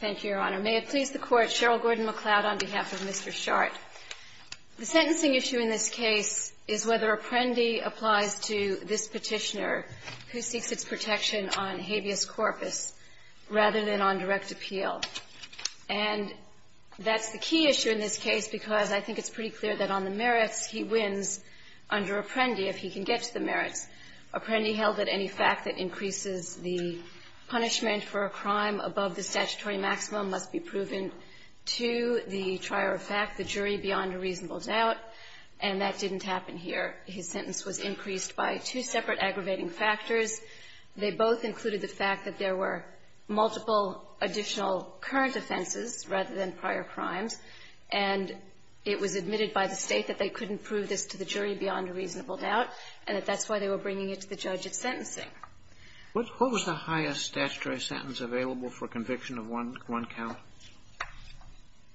Thank you, Your Honor. May it please the Court, Cheryl Gordon-McLeod on behalf of Mr. Shardt. The sentencing issue in this case is whether Apprendi applies to this petitioner who seeks its protection on habeas corpus rather than on direct appeal. And that's the key issue in this case because I think it's pretty clear that on the merits he wins under Apprendi if he can get to the merits. Apprendi held that any fact that increases the punishment for a crime above the statutory maximum must be proven to the trier of fact, the jury, beyond a reasonable doubt, and that didn't happen here. His sentence was increased by two separate aggravating factors. They both included the fact that there were multiple additional current offenses rather than prior crimes, and it was admitted by the State that they couldn't prove this to the jury beyond a reasonable doubt, and that that's why they were bringing it to the judge of sentencing. What was the highest statutory sentence available for conviction of one count?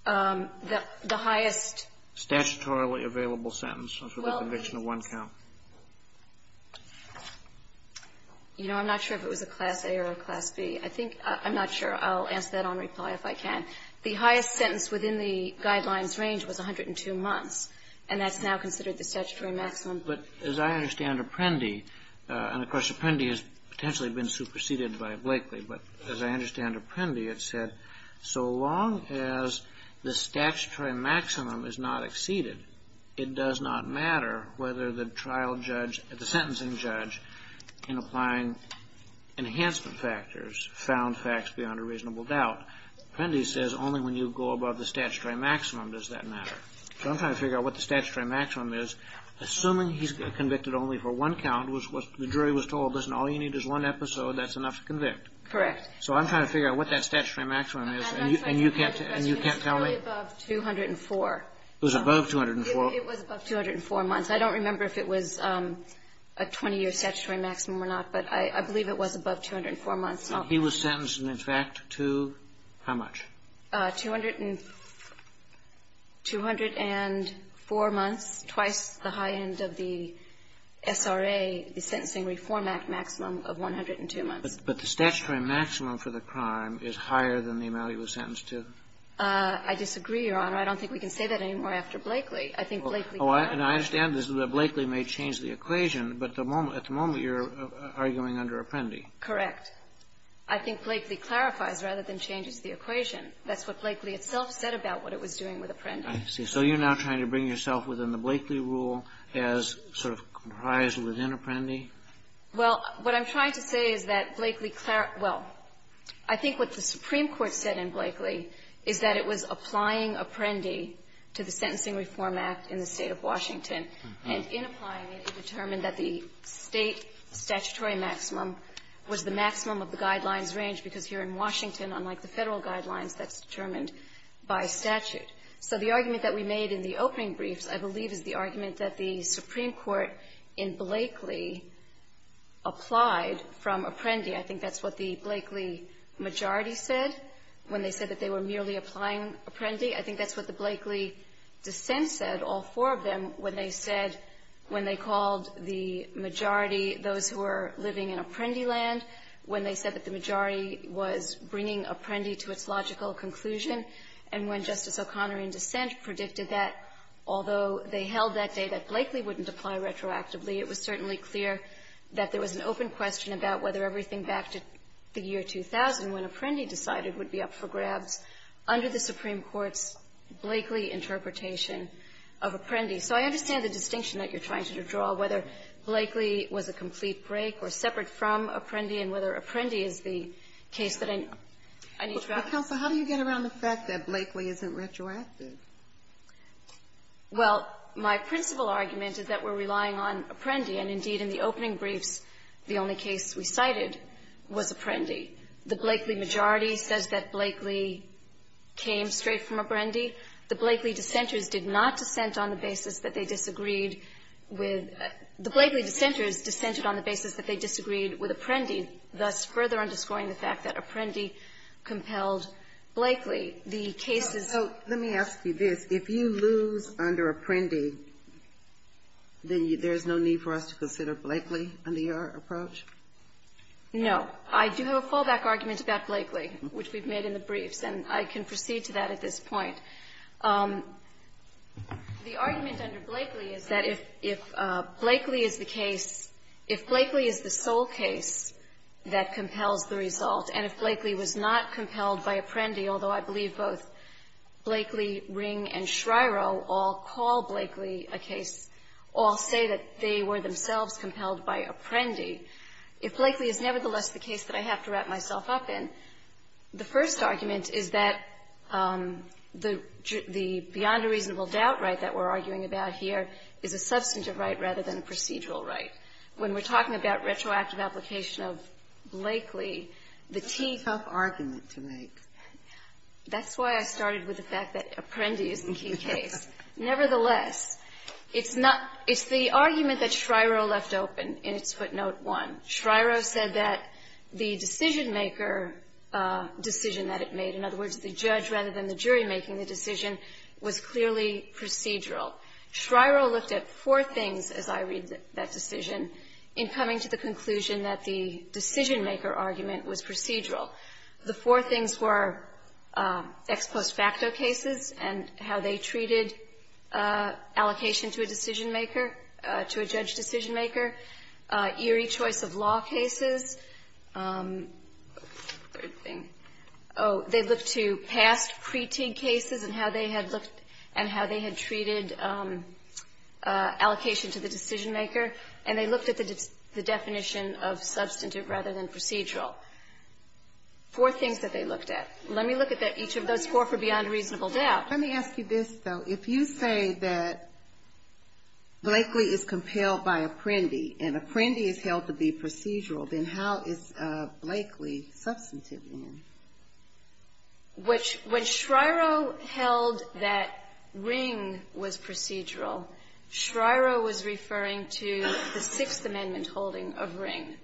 The highest statutorily available sentence for the conviction of one count. You know, I'm not sure if it was a Class A or a Class B. I think — I'm not sure. I'll ask that on reply if I can. The highest sentence within the Guidelines range was 102 months, and that's now considered the statutory maximum. But as I understand Apprendi — and, of course, Apprendi has potentially been superseded by Blakely, but as I understand Apprendi, it said so long as the statutory maximum is not exceeded, it does not matter whether the trial judge — the sentencing judge, in applying enhancement factors, found facts beyond a reasonable doubt. Apprendi says only when you go above the statutory maximum does that matter. So I'm trying to figure out what the statutory maximum is. Assuming he's convicted only for one count, which the jury was told, listen, all you need is one episode, that's enough to convict. Correct. So I'm trying to figure out what that statutory maximum is, and you can't tell me? It was really above 204. It was above 204? It was above 204 months. I don't remember if it was a 20-year statutory maximum or not, but I believe it was above 204 months. And he was sentenced, in fact, to how much? Two hundred and four months, twice the high end of the SRA, the Sentencing Reform Act maximum of 102 months. But the statutory maximum for the crime is higher than the amount he was sentenced to? I disagree, Your Honor. I don't think we can say that anymore after Blakely. I think Blakely — And I understand that Blakely may change the equation, but at the moment you're arguing under Apprendi. Correct. I think Blakely clarifies rather than changes the equation. That's what Blakely itself said about what it was doing with Apprendi. I see. So you're now trying to bring yourself within the Blakely rule as sort of comprised within Apprendi? Well, what I'm trying to say is that Blakely — well, I think what the Supreme Court said in Blakely is that it was applying Apprendi to the Sentencing Reform Act in the State of Washington, and in applying it, it determined that the State statutory maximum was the maximum of the guidelines range, because here in Washington, unlike the Federal guidelines, that's determined by statute. So the argument that we made in the opening briefs, I believe, is the argument that the Supreme Court in Blakely applied from Apprendi. I think that's what the Blakely majority said when they said that they were merely applying Apprendi. I think that's what the Blakely dissent said, all four of them, when they said — when they called the majority those who were living in Apprendi land, when they said that the majority was bringing Apprendi to its logical conclusion, and when Justice O'Connor, in dissent, predicted that, although they held that day that Blakely wouldn't apply retroactively, it was certainly clear that there was an open question about whether everything back to the year 2000, when Apprendi decided, would be up for grabs under the Supreme Court's Blakely interpretation of Apprendi. So I understand the distinction that you're trying to draw, whether Blakely was a complete break or separate from Apprendi, and whether Apprendi is the case that I need to wrap my head around. Ginsburg. But, Counsel, how do you get around the fact that Blakely isn't retroactive? Kovner. Well, my principal argument is that we're relying on Apprendi, and, indeed, in the opening briefs, the only case we cited was Apprendi. The Blakely majority says that Blakely came straight from Apprendi. The Blakely dissenters did not dissent on the basis that they disagreed with the Blakely dissenters dissented on the basis that they disagreed with Apprendi, thus further underscoring the fact that Apprendi compelled Blakely. The case is so So let me ask you this. If you lose under Apprendi, then there's no need for us to consider Blakely under your approach? No. I do have a fallback argument about Blakely, which we've made in the briefs, and I can proceed to that at this point. The argument under Blakely is that if Blakely is the case, if Blakely is the sole case that compels the result, and if Blakely was not compelled by Apprendi, although I believe both Blakely, Ring, and Shryo all call Blakely a case, all say that they were themselves compelled by Apprendi, if Blakely is nevertheless the case that I have to wrap myself up in, the first argument is that the beyond-reasonable-doubt right that we're arguing about here is a substantive right rather than a procedural right. When we're talking about retroactive application of Blakely, the T That's a tough argument to make. That's why I started with the fact that Apprendi is the key case. Nevertheless, it's not the argument that Shryo left open in its footnote 1. Shryo said that the decision-maker decision that it made, in other words, the judge rather than the jury making the decision, was clearly procedural. Shryo looked at four things as I read that decision in coming to the conclusion that the decision-maker argument was procedural. The four things were ex post facto cases and how they treated allocation to a decision maker, eerie choice of law cases, they looked to past pre-T cases and how they had treated allocation to the decision-maker, and they looked at the definition of substantive rather than procedural. Four things that they looked at. Let me look at each of those four for beyond-reasonable-doubt. Let me ask you this, though. If you say that Blakely is compelled by Apprendi and Apprendi is held to be procedural, then how is Blakely substantive then? When Shryo held that Ring was procedural, Shryo was referring to the Sixth Amendment holding of Ring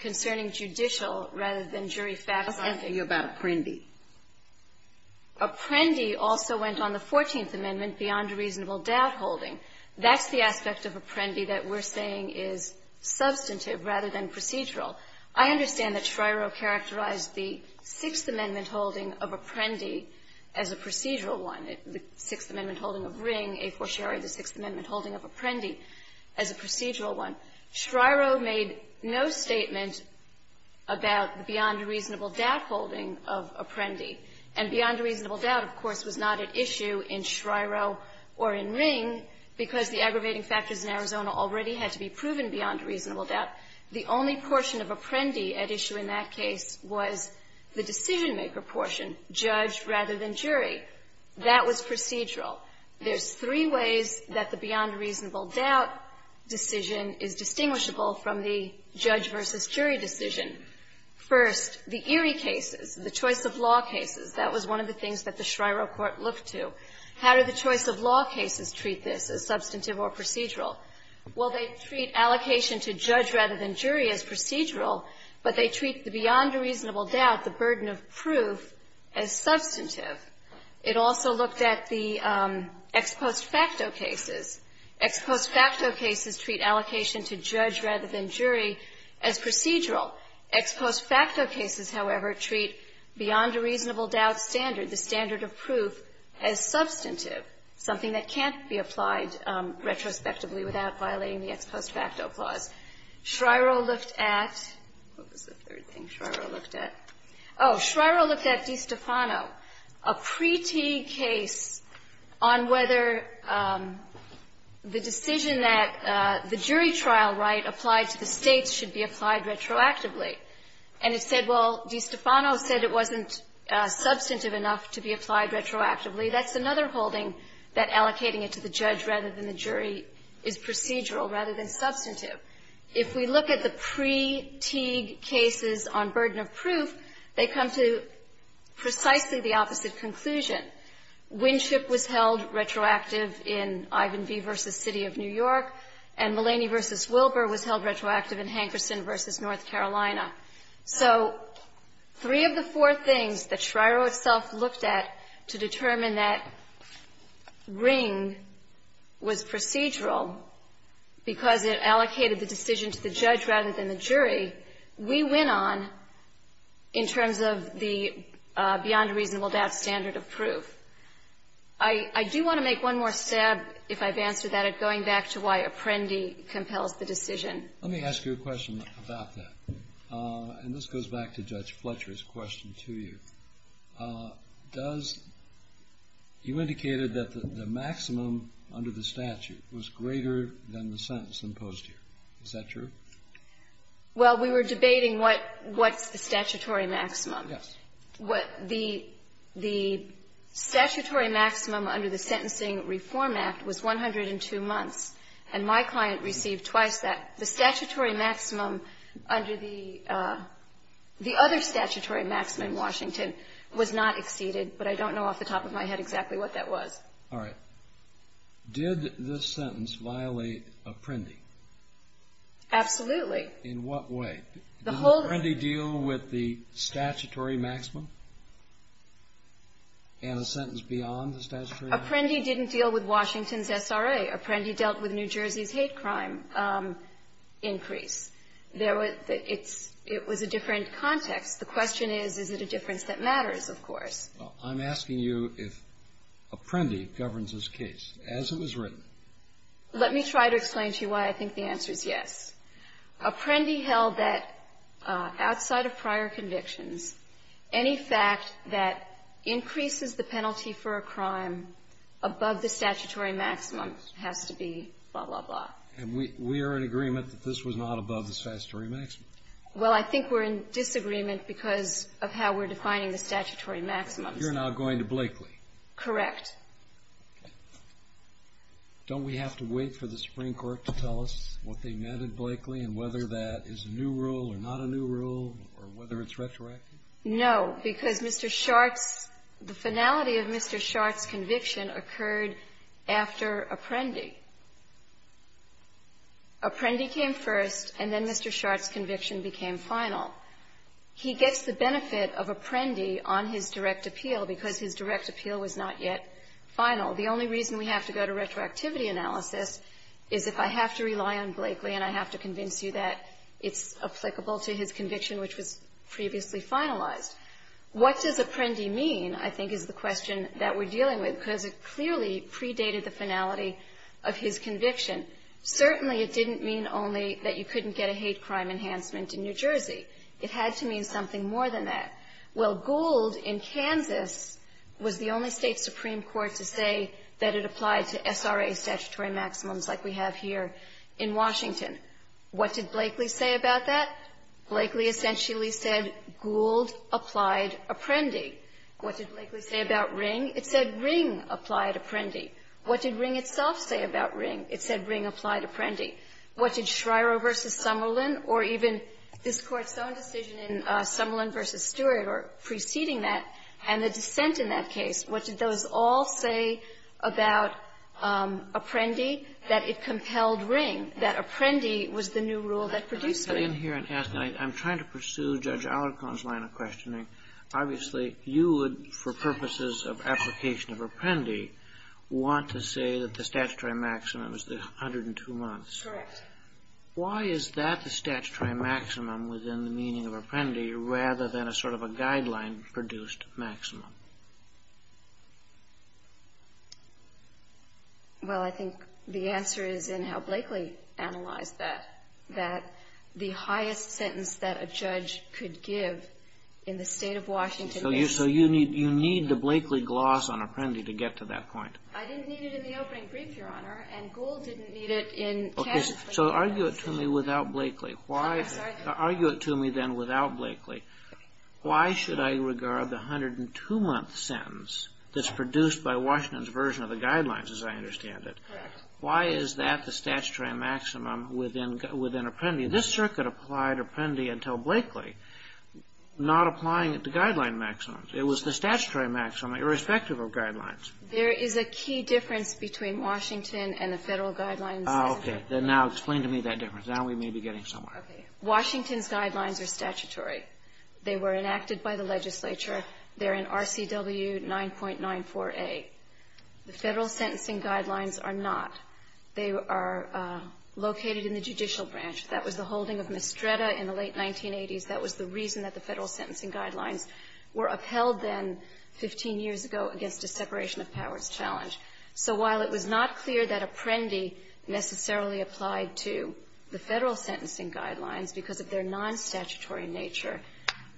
concerning judicial rather than jury facto. Let's ask you about Apprendi. Apprendi also went on the Fourteenth Amendment beyond-reasonable-doubt holding. That's the aspect of Apprendi that we're saying is substantive rather than procedural. I understand that Shryo characterized the Sixth Amendment holding of Apprendi as a procedural one, the Sixth Amendment holding of Ring, a fortiori the Sixth Amendment holding of Apprendi as a procedural one. Shryo made no statement about the beyond-reasonable-doubt holding of Apprendi. And beyond-reasonable-doubt, of course, was not at issue in Shryo or in Ring because the aggravating factors in Arizona already had to be proven beyond-reasonable-doubt. The only portion of Apprendi at issue in that case was the decision-maker portion, judge rather than jury. That was procedural. There's three ways that the beyond-reasonable-doubt decision is distinguishable from the judge versus jury decision. First, the Erie cases, the choice-of-law cases, that was one of the things that the Shryo court looked to. How did the choice-of-law cases treat this as substantive or procedural? Well, they treat allocation to judge rather than jury as procedural, but they treat the beyond-reasonable-doubt, the burden of proof, as substantive. It also looked at the ex post facto cases. Ex post facto cases treat allocation to judge rather than jury as procedural. Ex post facto cases, however, treat beyond-reasonable-doubt standard, the standard of proof, as substantive, something that can't be applied retrospectively without violating the ex post facto clause. Shryo looked at, what was the third thing Shryo looked at? Oh, Shryo looked at DiStefano, a pre-Teague case on whether the decision that the jury trial right applied to the States should be applied retroactively. And it said, well, DiStefano said it wasn't substantive enough to be applied retroactively. That's another holding that allocating it to the judge rather than the jury is procedural rather than substantive. If we look at the pre-Teague cases on burden of proof, they come to precisely the opposite conclusion. Winship was held retroactive in Ivan v. City of New York, and Mulaney v. Wilbur was held retroactive in Hankerson v. North Carolina. So three of the four things that Shryo itself looked at to determine that Ring was to the judge rather than the jury, we went on in terms of the beyond-reasonable-to-out standard of proof. I do want to make one more stab, if I've answered that, at going back to why Apprendi compels the decision. Let me ask you a question about that. And this goes back to Judge Fletcher's question to you. Does you indicated that the maximum under the statute was greater than the sentence imposed here? Is that true? Well, we were debating what's the statutory maximum. Yes. The statutory maximum under the Sentencing Reform Act was 102 months, and my client received twice that. The statutory maximum under the other statutory maximum in Washington was not exceeded, but I don't know off the top of my head exactly what that was. All right. Did this sentence violate Apprendi? Absolutely. In what way? Did Apprendi deal with the statutory maximum and a sentence beyond the statutory maximum? Apprendi didn't deal with Washington's SRA. Apprendi dealt with New Jersey's hate crime increase. It was a different context. The question is, is it a difference that matters, of course? Well, I'm asking you if Apprendi governs this case, as it was written. Let me try to explain to you why I think the answer is yes. Apprendi held that outside of prior convictions, any fact that increases the penalty for a crime above the statutory maximum has to be blah, blah, blah. And we are in agreement that this was not above the statutory maximum. Well, I think we're in disagreement because of how we're defining the statutory maximums. You're now going to Blakely. Correct. Okay. Don't we have to wait for the Supreme Court to tell us what they meant at Blakely and whether that is a new rule or not a new rule or whether it's retroactive? No, because Mr. Shartz, the finality of Mr. Shartz's conviction occurred after Apprendi. Apprendi came first, and then Mr. Shartz's conviction became final. He gets the benefit of Apprendi on his direct appeal because his direct appeal was not yet final. The only reason we have to go to retroactivity analysis is if I have to rely on Blakely and I have to convince you that it's applicable to his conviction, which was previously finalized. What does Apprendi mean, I think, is the question that we're dealing with, because it clearly predated the finality of his conviction. Certainly, it didn't mean only that you couldn't get a hate crime enhancement in New Jersey. It had to mean something more than that. Well, Gould in Kansas was the only State supreme court to say that it applied to SRA statutory maximums like we have here in Washington. What did Blakely say about that? Blakely essentially said Gould applied Apprendi. What did Blakely say about Ring? It said Ring applied Apprendi. What did Ring itself say about Ring? It said Ring applied Apprendi. What did Schreyer v. Summerlin or even this Court's own decision in Summerlin v. Stewart or preceding that and the dissent in that case, what did those all say about Apprendi? That it compelled Ring, that Apprendi was the new rule that produced Ring. I'm trying to pursue Judge Alarcon's line of questioning. Obviously, you would, for purposes of application of Apprendi, want to say that the statutory maximum is the 102 months. Correct. Why is that the statutory maximum within the meaning of Apprendi rather than a sort of a guideline produced maximum? Well, I think the answer is in how Blakely analyzed that, that the highest sentence that a judge could give in the State of Washington. So you need the Blakely gloss on Apprendi to get to that point. I didn't need it in the opening brief, Your Honor, and Gould didn't need it in test. So argue it to me without Blakely. Why? I'm sorry. Argue it to me then without Blakely. Why should I regard the 102-month sentence that's produced by Washington's version of the guidelines, as I understand it? Correct. Why is that the statutory maximum within Apprendi? This Circuit applied Apprendi until Blakely, not applying the guideline maximum. It was the statutory maximum, irrespective of guidelines. There is a key difference between Washington and the Federal guidelines. Okay. Then now explain to me that difference. Now we may be getting somewhere. Okay. Washington's guidelines are statutory. They were enacted by the legislature. They're in RCW 9.94a. The Federal sentencing guidelines are not. They are located in the judicial branch. That was the holding of Mistretta in the late 1980s. That was the reason that the Federal sentencing guidelines were upheld then 15 years ago against a separation of powers challenge. So while it was not clear that Apprendi necessarily applied to the Federal sentencing guidelines because of their non-statutory nature,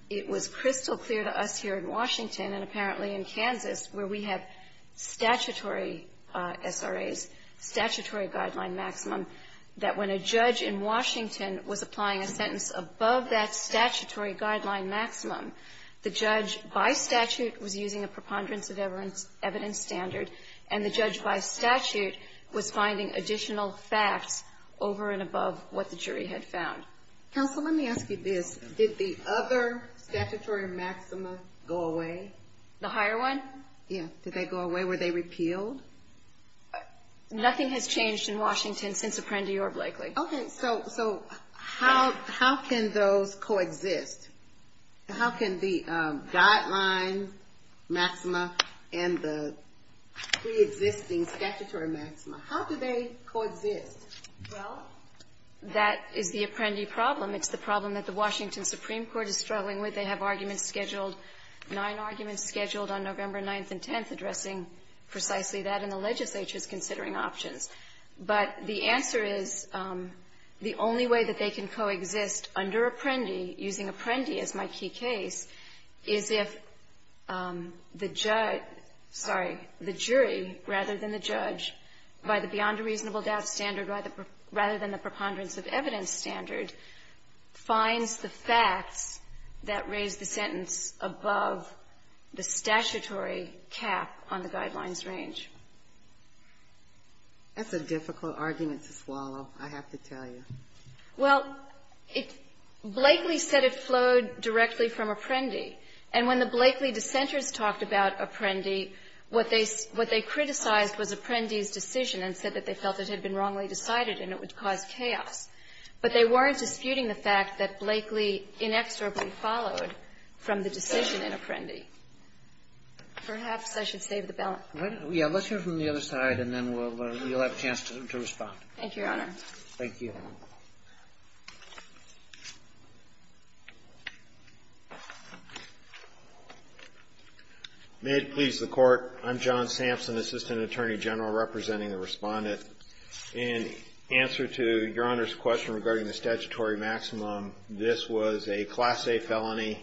it was crystal clear to us here in Washington and apparently in Kansas where we have statutory SRAs, statutory guideline maximum, that when a judge in Washington was applying a sentence above that statutory guideline maximum, the judge by statute was using a preponderance of evidence standard, and the judge by statute was finding additional facts over and above what the jury had found. Counsel, let me ask you this. Did the other statutory maxima go away? The higher one? Yes. Did they go away? Were they repealed? Nothing has changed in Washington since Apprendi or Blakely. Okay. So how can those coexist? How can the guideline maxima and the preexisting statutory maxima, how do they coexist? Well, that is the Apprendi problem. It's the problem that the Washington Supreme Court is struggling with. They have arguments scheduled, nine arguments scheduled on November 9th and 10th addressing precisely that, and the legislature is considering options. But the answer is, the only way that they can coexist under Apprendi, using Apprendi as my key case, is if the judge — sorry, the jury rather than the judge, by the beyond a reasonable doubt standard rather than the preponderance of evidence standard, finds the facts that raise the sentence above the statutory cap on the guidelines range. That's a difficult argument to swallow, I have to tell you. Well, it — Blakely said it flowed directly from Apprendi. And when the Blakely dissenters talked about Apprendi, what they criticized was Apprendi's decision and said that they felt it had been wrongly decided and it would cause chaos. But they weren't disputing the fact that Blakely inexorably followed from the decision in Apprendi. Perhaps I should save the balance. Yeah. Let's hear from the other side, and then we'll — you'll have a chance to respond. Thank you, Your Honor. Thank you. May it please the Court. I'm John Sampson, Assistant Attorney General representing the Respondent. In answer to Your Honor's question regarding the statutory maximum, this was a Class A felony,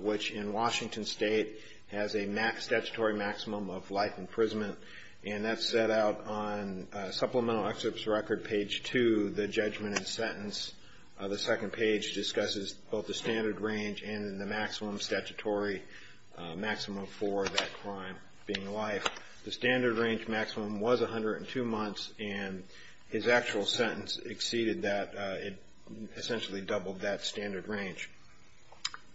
which in Washington State has a statutory maximum of life imprisonment. And that's set out on Supplemental Excerpt's record, page 2, the judgment and sentence. The second page discusses both the standard range and the maximum statutory maximum for that crime being life. The standard range maximum was 102 months, and his actual sentence exceeded that. It essentially doubled that standard range.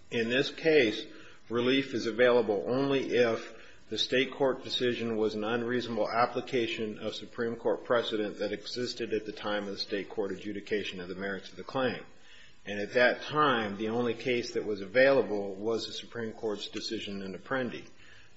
In this case, relief is available only if the state court decision was an unreasonable application of Supreme Court precedent that existed at the time of the state court adjudication of the merits of the claim. And at that time, the only case that was available was the Supreme Court's decision in Apprendi.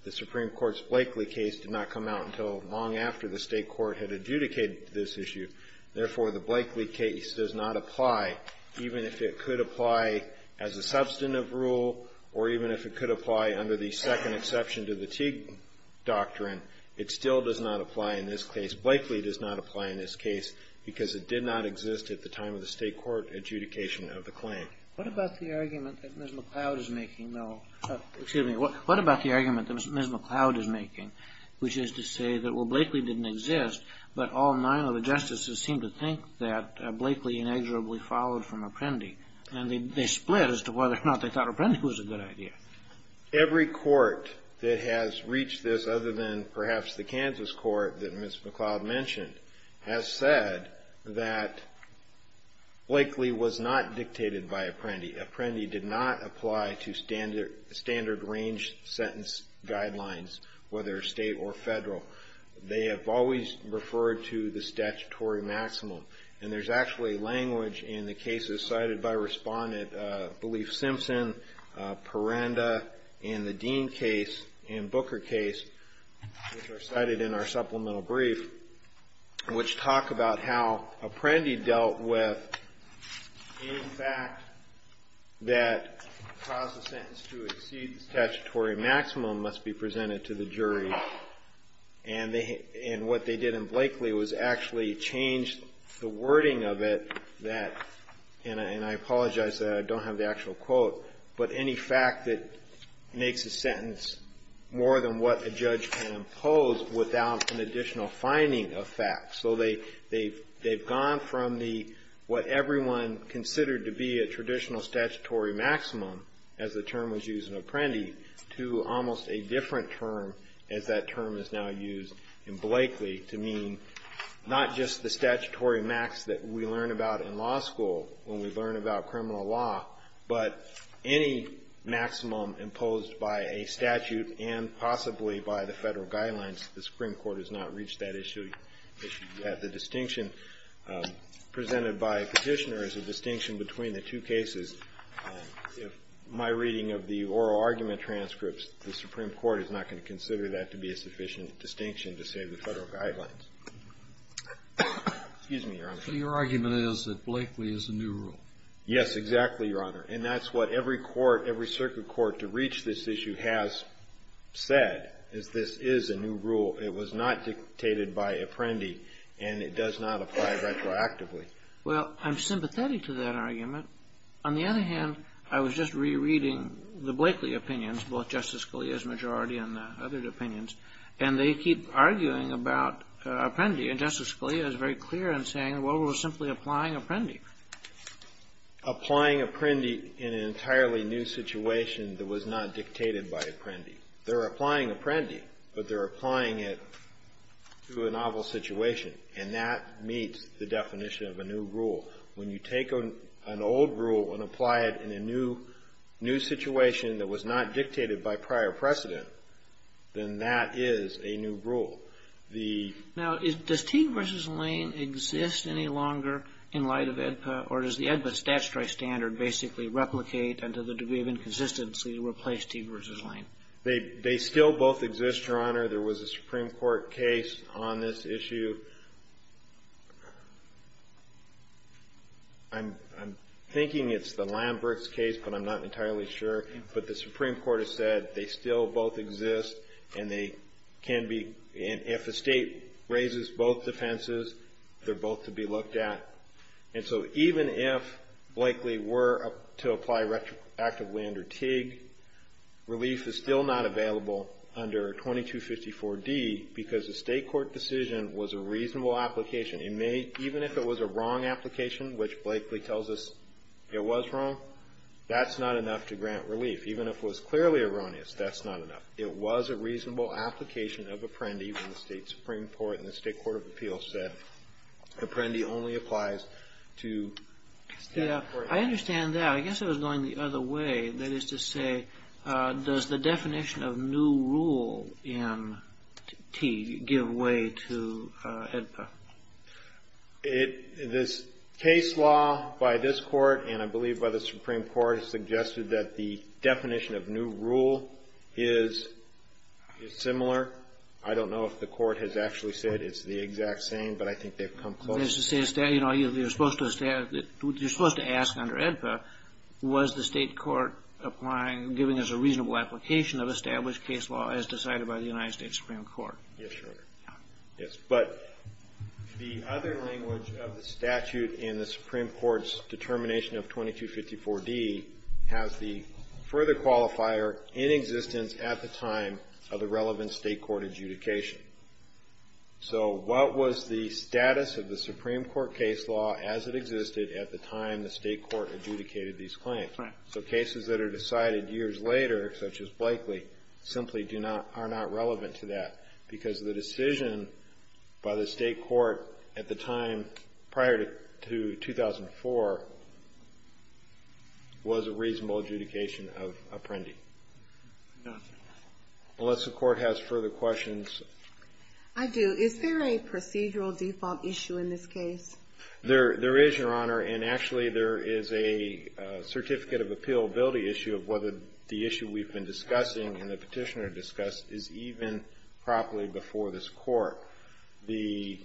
The Supreme Court's Blakeley case did not come out until long after the state court had adjudicated this issue. Therefore, the Blakeley case does not apply, even if it could apply as a substantive rule or even if it could apply under the second exception to the Teague doctrine. It still does not apply in this case. Blakeley does not apply in this case because it did not exist at the time of the state court adjudication of the claim. What about the argument that Ms. McLeod is making, though? Excuse me. What about the argument that Ms. McLeod is making, which is to say that, well, Blakeley didn't exist, but all nine of the justices seemed to think that Blakeley inexorably followed from Apprendi. And they split as to whether or not they thought Apprendi was a good idea. Every court that has reached this, other than perhaps the Kansas court that Ms. McLeod mentioned, has said that Blakeley was not dictated by Apprendi. Apprendi did not apply to standard range sentence guidelines, whether state or federal. They have always referred to the statutory maximum. And there's actually language in the cases cited by Respondent, I believe, Simpson, Perenda, and the Dean case, and Booker case, which are cited in our supplemental brief, which talk about how Apprendi dealt with any fact that caused the sentence to exceed the statutory maximum must be presented to the jury. And what they did in Blakeley was actually change the wording of it that, and I don't have the actual quote, but any fact that makes a sentence more than what a judge can impose without an additional finding of facts. So they've gone from what everyone considered to be a traditional statutory maximum, as the term was used in Apprendi, to almost a different term, as that term is now used in Blakeley, to mean not just the statutory max that we learn about in law, but any maximum imposed by a statute and possibly by the federal guidelines, the Supreme Court has not reached that issue yet. The distinction presented by Petitioner is a distinction between the two cases. If my reading of the oral argument transcripts, the Supreme Court is not going to consider that to be a sufficient distinction to say the federal guidelines. Excuse me, Your Honor. So your argument is that Blakeley is a new rule? Yes, exactly, Your Honor. And that's what every court, every circuit court to reach this issue has said, is this is a new rule. It was not dictated by Apprendi, and it does not apply retroactively. Well, I'm sympathetic to that argument. On the other hand, I was just rereading the Blakeley opinions, both Justice Scalia's majority and the other opinions, and they keep arguing about Apprendi. And Justice Scalia is very clear in saying, well, we're simply applying Apprendi. Applying Apprendi in an entirely new situation that was not dictated by Apprendi. They're applying Apprendi, but they're applying it to a novel situation, and that meets the definition of a new rule. When you take an old rule and apply it in a new situation that was not dictated by prior precedent, then that is a new rule. Now, does Teague v. Lane exist any longer in light of AEDPA, or does the AEDPA statutory standard basically replicate, and to the degree of inconsistency, replace Teague v. Lane? They still both exist, Your Honor. There was a Supreme Court case on this issue. I'm thinking it's the Lamberts case, but I'm not entirely sure. But the Supreme Court has said they still both exist, and they can be, and if a state raises both defenses, they're both to be looked at. And so even if Blakely were to apply retroactively under Teague, relief is still not available under 2254D, because the state court decision was a reasonable application. Even if it was a wrong application, which Blakely tells us it was wrong, that's not enough to grant relief. Even if it was clearly erroneous, that's not enough. It was a reasonable application of Apprendi when the state Supreme Court and the state court of appeals said Apprendi only applies to state courts. I understand that. I guess I was going the other way. That is to say, does the definition of new rule in Teague give way to AEDPA? This case law by this court, and I believe by the Supreme Court, has suggested that the definition of new rule is similar. I don't know if the court has actually said it's the exact same, but I think they've come close. That is to say, you're supposed to ask under AEDPA, was the state court applying, giving us a reasonable application of established case law as decided by the United States Supreme Court? Yes, Your Honor. Yes, but the other language of the statute in the Supreme Court's determination of 2254D has the further qualifier in existence at the time of the relevant state court adjudication. So what was the status of the Supreme Court case law as it existed at the time the state court adjudicated these claims? So cases that are decided years later, such as Blakely, simply are not relevant to that because the decision by the state court at the time prior to 2004 was a reasonable adjudication of Apprendi. Unless the court has further questions. I do. Is there a procedural default issue in this case? There is, Your Honor, and actually there is a certificate of appealability issue of whether the issue we've been discussing and the Petitioner discussed is even properly before this court. The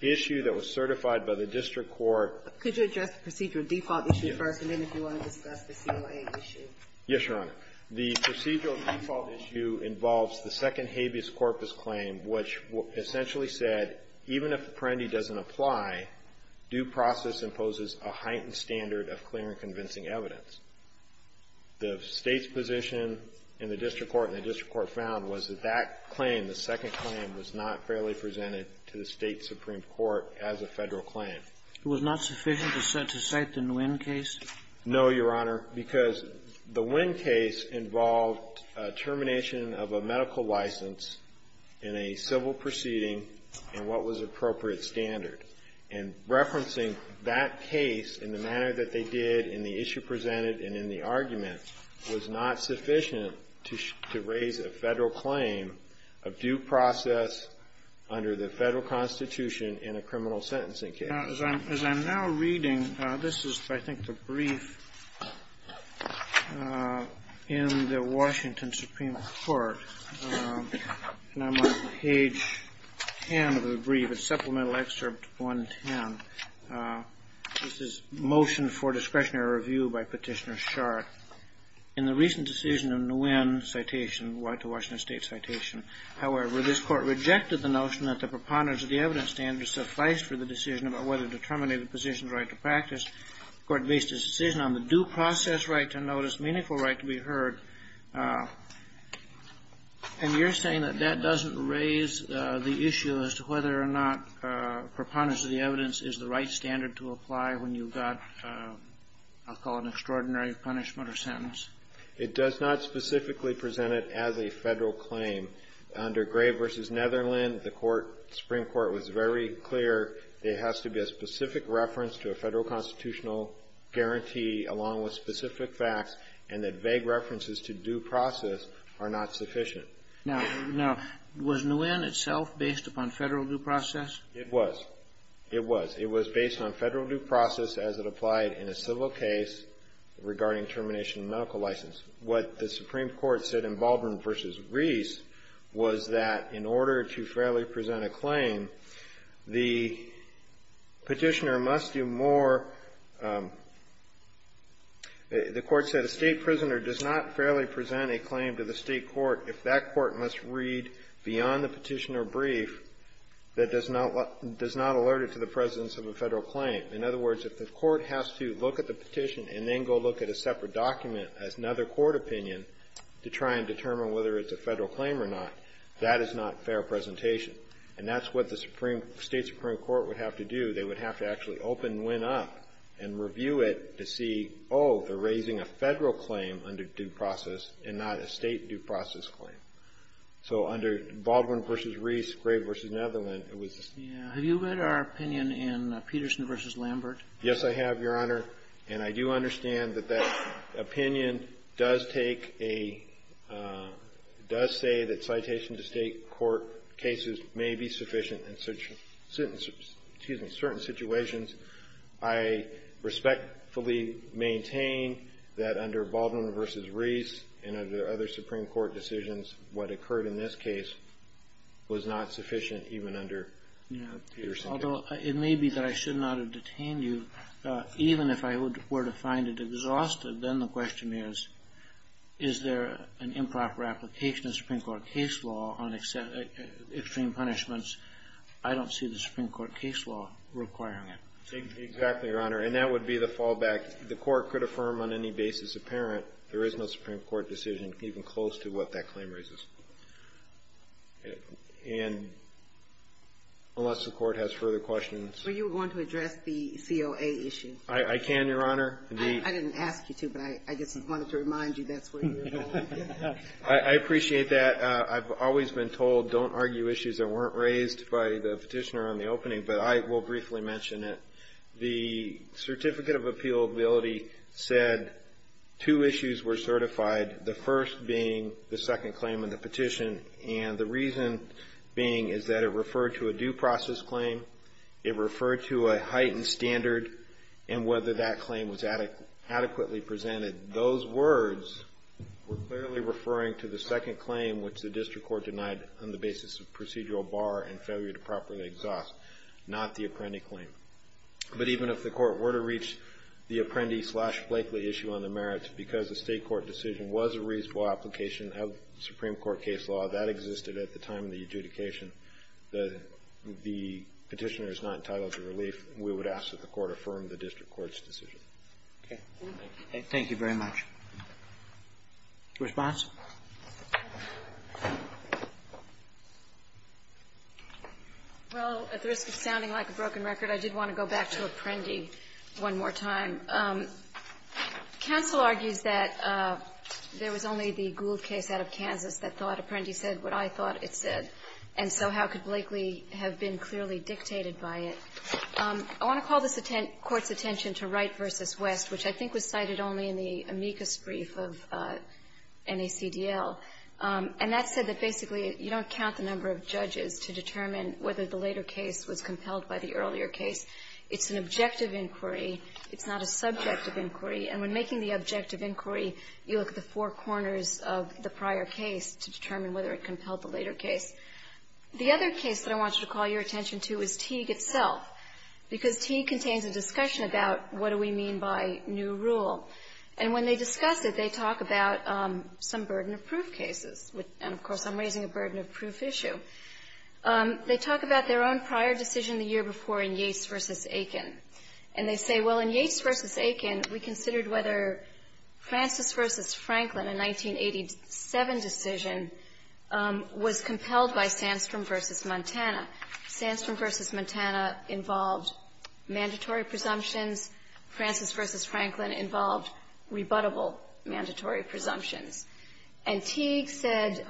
issue that was certified by the district court – Could you address the procedural default issue first, and then if you want to discuss the COA issue. Yes, Your Honor. The procedural default issue involves the second habeas corpus claim, which essentially said even if Apprendi doesn't apply, due process imposes a heightened standard of clear and convincing evidence. The state's position in the district court and the district court found was that that claim, the second claim, was not fairly presented to the state Supreme Court as a federal claim. It was not sufficient to cite the Nguyen case? No, Your Honor, because the Nguyen case involved termination of a medical license in a civil proceeding in what was appropriate standard. And referencing that case in the manner that they did in the issue presented and in the argument was not sufficient to raise a federal claim of due process under the federal Constitution in a criminal sentencing case. Now, as I'm now reading, this is, I think, the brief in the Washington Supreme Court, and I'm on page 10 of the brief, it's supplemental excerpt 110, this is Motion for Discretionary Review by Petitioner Sharpe. In the recent decision of Nguyen's citation, the Washington State citation, however, this court rejected the notion that the preponderance of the evidence standard sufficed for the decision about whether to terminate the position's right to practice, the court based its decision on the due process right to notice, meaningful right to be heard, and you're saying that that doesn't raise the issue as to whether or not preponderance of the evidence is the right standard to apply when you've got, I'll call it an extraordinary punishment or sentence. It does not specifically present it as a federal claim. Under Gray v. Netherland, the Court, Supreme Court was very clear there has to be a specific reference to a federal constitutional guarantee along with specific facts, and that vague references to due process are not sufficient. Now, was Nguyen itself based upon federal due process? It was. It was. It was based on federal due process as it applied in a civil case regarding termination of medical license. What the Supreme Court said in Baldwin v. Reese was that in order to fairly present a claim, the petitioner must do more, the Court said, a state prisoner does not fairly present a claim to the state court if that court must read beyond the petitioner brief that does not alert it to the presence of a federal claim. In other words, if the court has to look at the petition and then go look at a separate document as another court opinion to try and determine whether it's a federal claim or not, that is not fair presentation. And that's what the Supreme — State Supreme Court would have to do. They would have to actually open Nguyen up and review it to see, oh, they're raising a federal claim under due process and not a state due process claim. So under Baldwin v. Reese, Gray v. Netherland, it was the same. Yeah. Have you read our opinion in Peterson v. Lambert? Yes, I have, Your Honor. And I do understand that that opinion does take a — does say that citation to state court cases may be sufficient in certain — excuse me, certain situations. I respectfully maintain that under Baldwin v. Reese and under other Supreme Court decisions, what occurred in this case was not sufficient even under Peterson v. Lambert. Well, it may be that I should not have detained you even if I were to find it exhaustive. Then the question is, is there an improper application of Supreme Court case law on extreme punishments? I don't see the Supreme Court case law requiring it. Exactly, Your Honor. And that would be the fallback. The court could affirm on any basis apparent there is no Supreme Court decision even close to what that claim raises. And unless the Court has further questions — Were you going to address the COA issue? I can, Your Honor. I didn't ask you to, but I just wanted to remind you that's where you were going. I appreciate that. I've always been told don't argue issues that weren't raised by the petitioner on the opening, but I will briefly mention it. The Certificate of Appealability said two issues were certified, the first being the second claim in the petition, and the reason being is that it referred to a due process claim, it referred to a heightened standard, and whether that claim was adequately presented. Those words were clearly referring to the second claim, which the district court denied on the basis of procedural bar and failure to properly exhaust, not the apprendee claim. But even if the court were to reach the apprentice-slash-Blakely issue on the merits because the state court decision was a reasonable application of Supreme Court case law, that existed at the time of the adjudication, the petitioner is not entitled to relief, we would ask that the Court affirm the district court's decision. Okay. Thank you very much. Response? Well, at the risk of sounding like a broken record, I did want to go back to apprendee one more time. Counsel argues that there was only the Gould case out of Kansas that thought apprendee said what I thought it said, and so how could Blakely have been clearly dictated by it. I want to call this Court's attention to Wright v. West, which I think was cited only in the amicus brief of NACDL. And that said that basically you don't count the number of judges to determine whether the later case was compelled by the earlier case. It's an objective inquiry. It's not a subjective inquiry. And when making the objective inquiry, you look at the four corners of the prior case to determine whether it compelled the later case. The other case that I want you to call your attention to is Teague itself, because Teague contains a discussion about what do we mean by new rule. And when they discuss it, they talk about some burden of proof cases, and, of course, I'm raising a burden of proof issue. They talk about their own prior decision the year before in Yates v. Aiken. And they say, well, in Yates v. Aiken, we considered whether Francis v. Franklin, a 1987 decision, was compelled by Sandstrom v. Montana. Sandstrom v. Montana involved mandatory presumptions. Francis v. Franklin involved rebuttable mandatory presumptions. And Teague said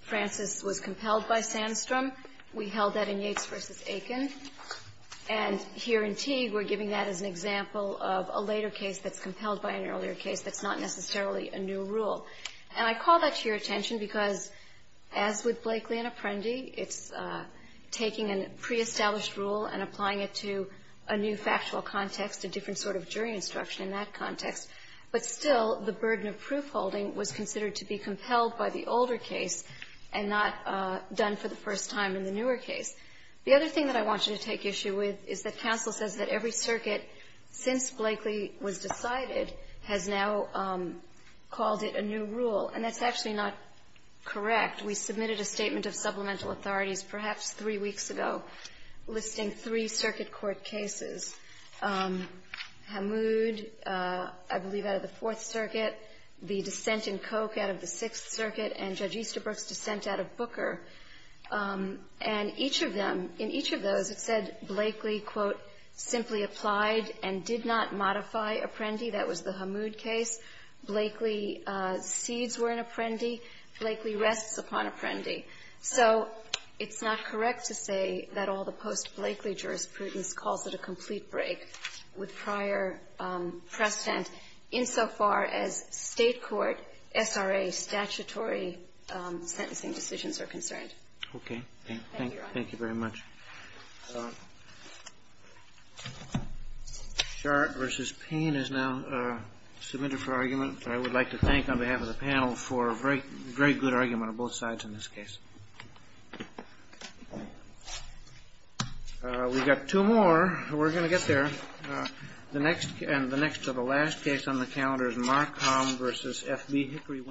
Francis was compelled by Sandstrom. We held that in Yates v. Aiken. And here in Teague, we're giving that as an example of a later case that's compelled by an earlier case that's not necessarily a new rule. And I call that to your attention because, as with Blakely and Apprendi, it's taking a pre-established rule and applying it to a new factual context, a different sort of jury instruction in that context. But still, the burden of proofholding was considered to be compelled by the older case and not done for the first time in the newer case. The other thing that I want you to take issue with is that counsel says that every circuit, since Blakely was decided, has now called it a new rule. And that's actually not correct. We submitted a statement of supplemental authorities perhaps three weeks ago listing three circuit court cases, Hamoud, I believe, out of the Fourth Circuit, the dissent in Koch out of the Sixth Circuit, and Judge Easterbrook's dissent out of Booker. And each of them, in each of those, it said Blakely, quote, simply applied and did not modify Apprendi. That was the Hamoud case. Blakely cedes were in Apprendi. Blakely rests upon Apprendi. So it's not correct to say that all the post-Blakely jurisprudence calls it a complete break with prior precedent insofar as State court SRA statutory sentencing decisions are concerned. Thank you, Your Honor. Thank you very much. Sharp v. Payne is now submitted for argument. I would like to thank on behalf of the panel for a very good argument on both sides in this case. We've got two more. We're going to get there. The next and the next to the last case on the calendar is Mark Hom v. F.B. Hickory Wind.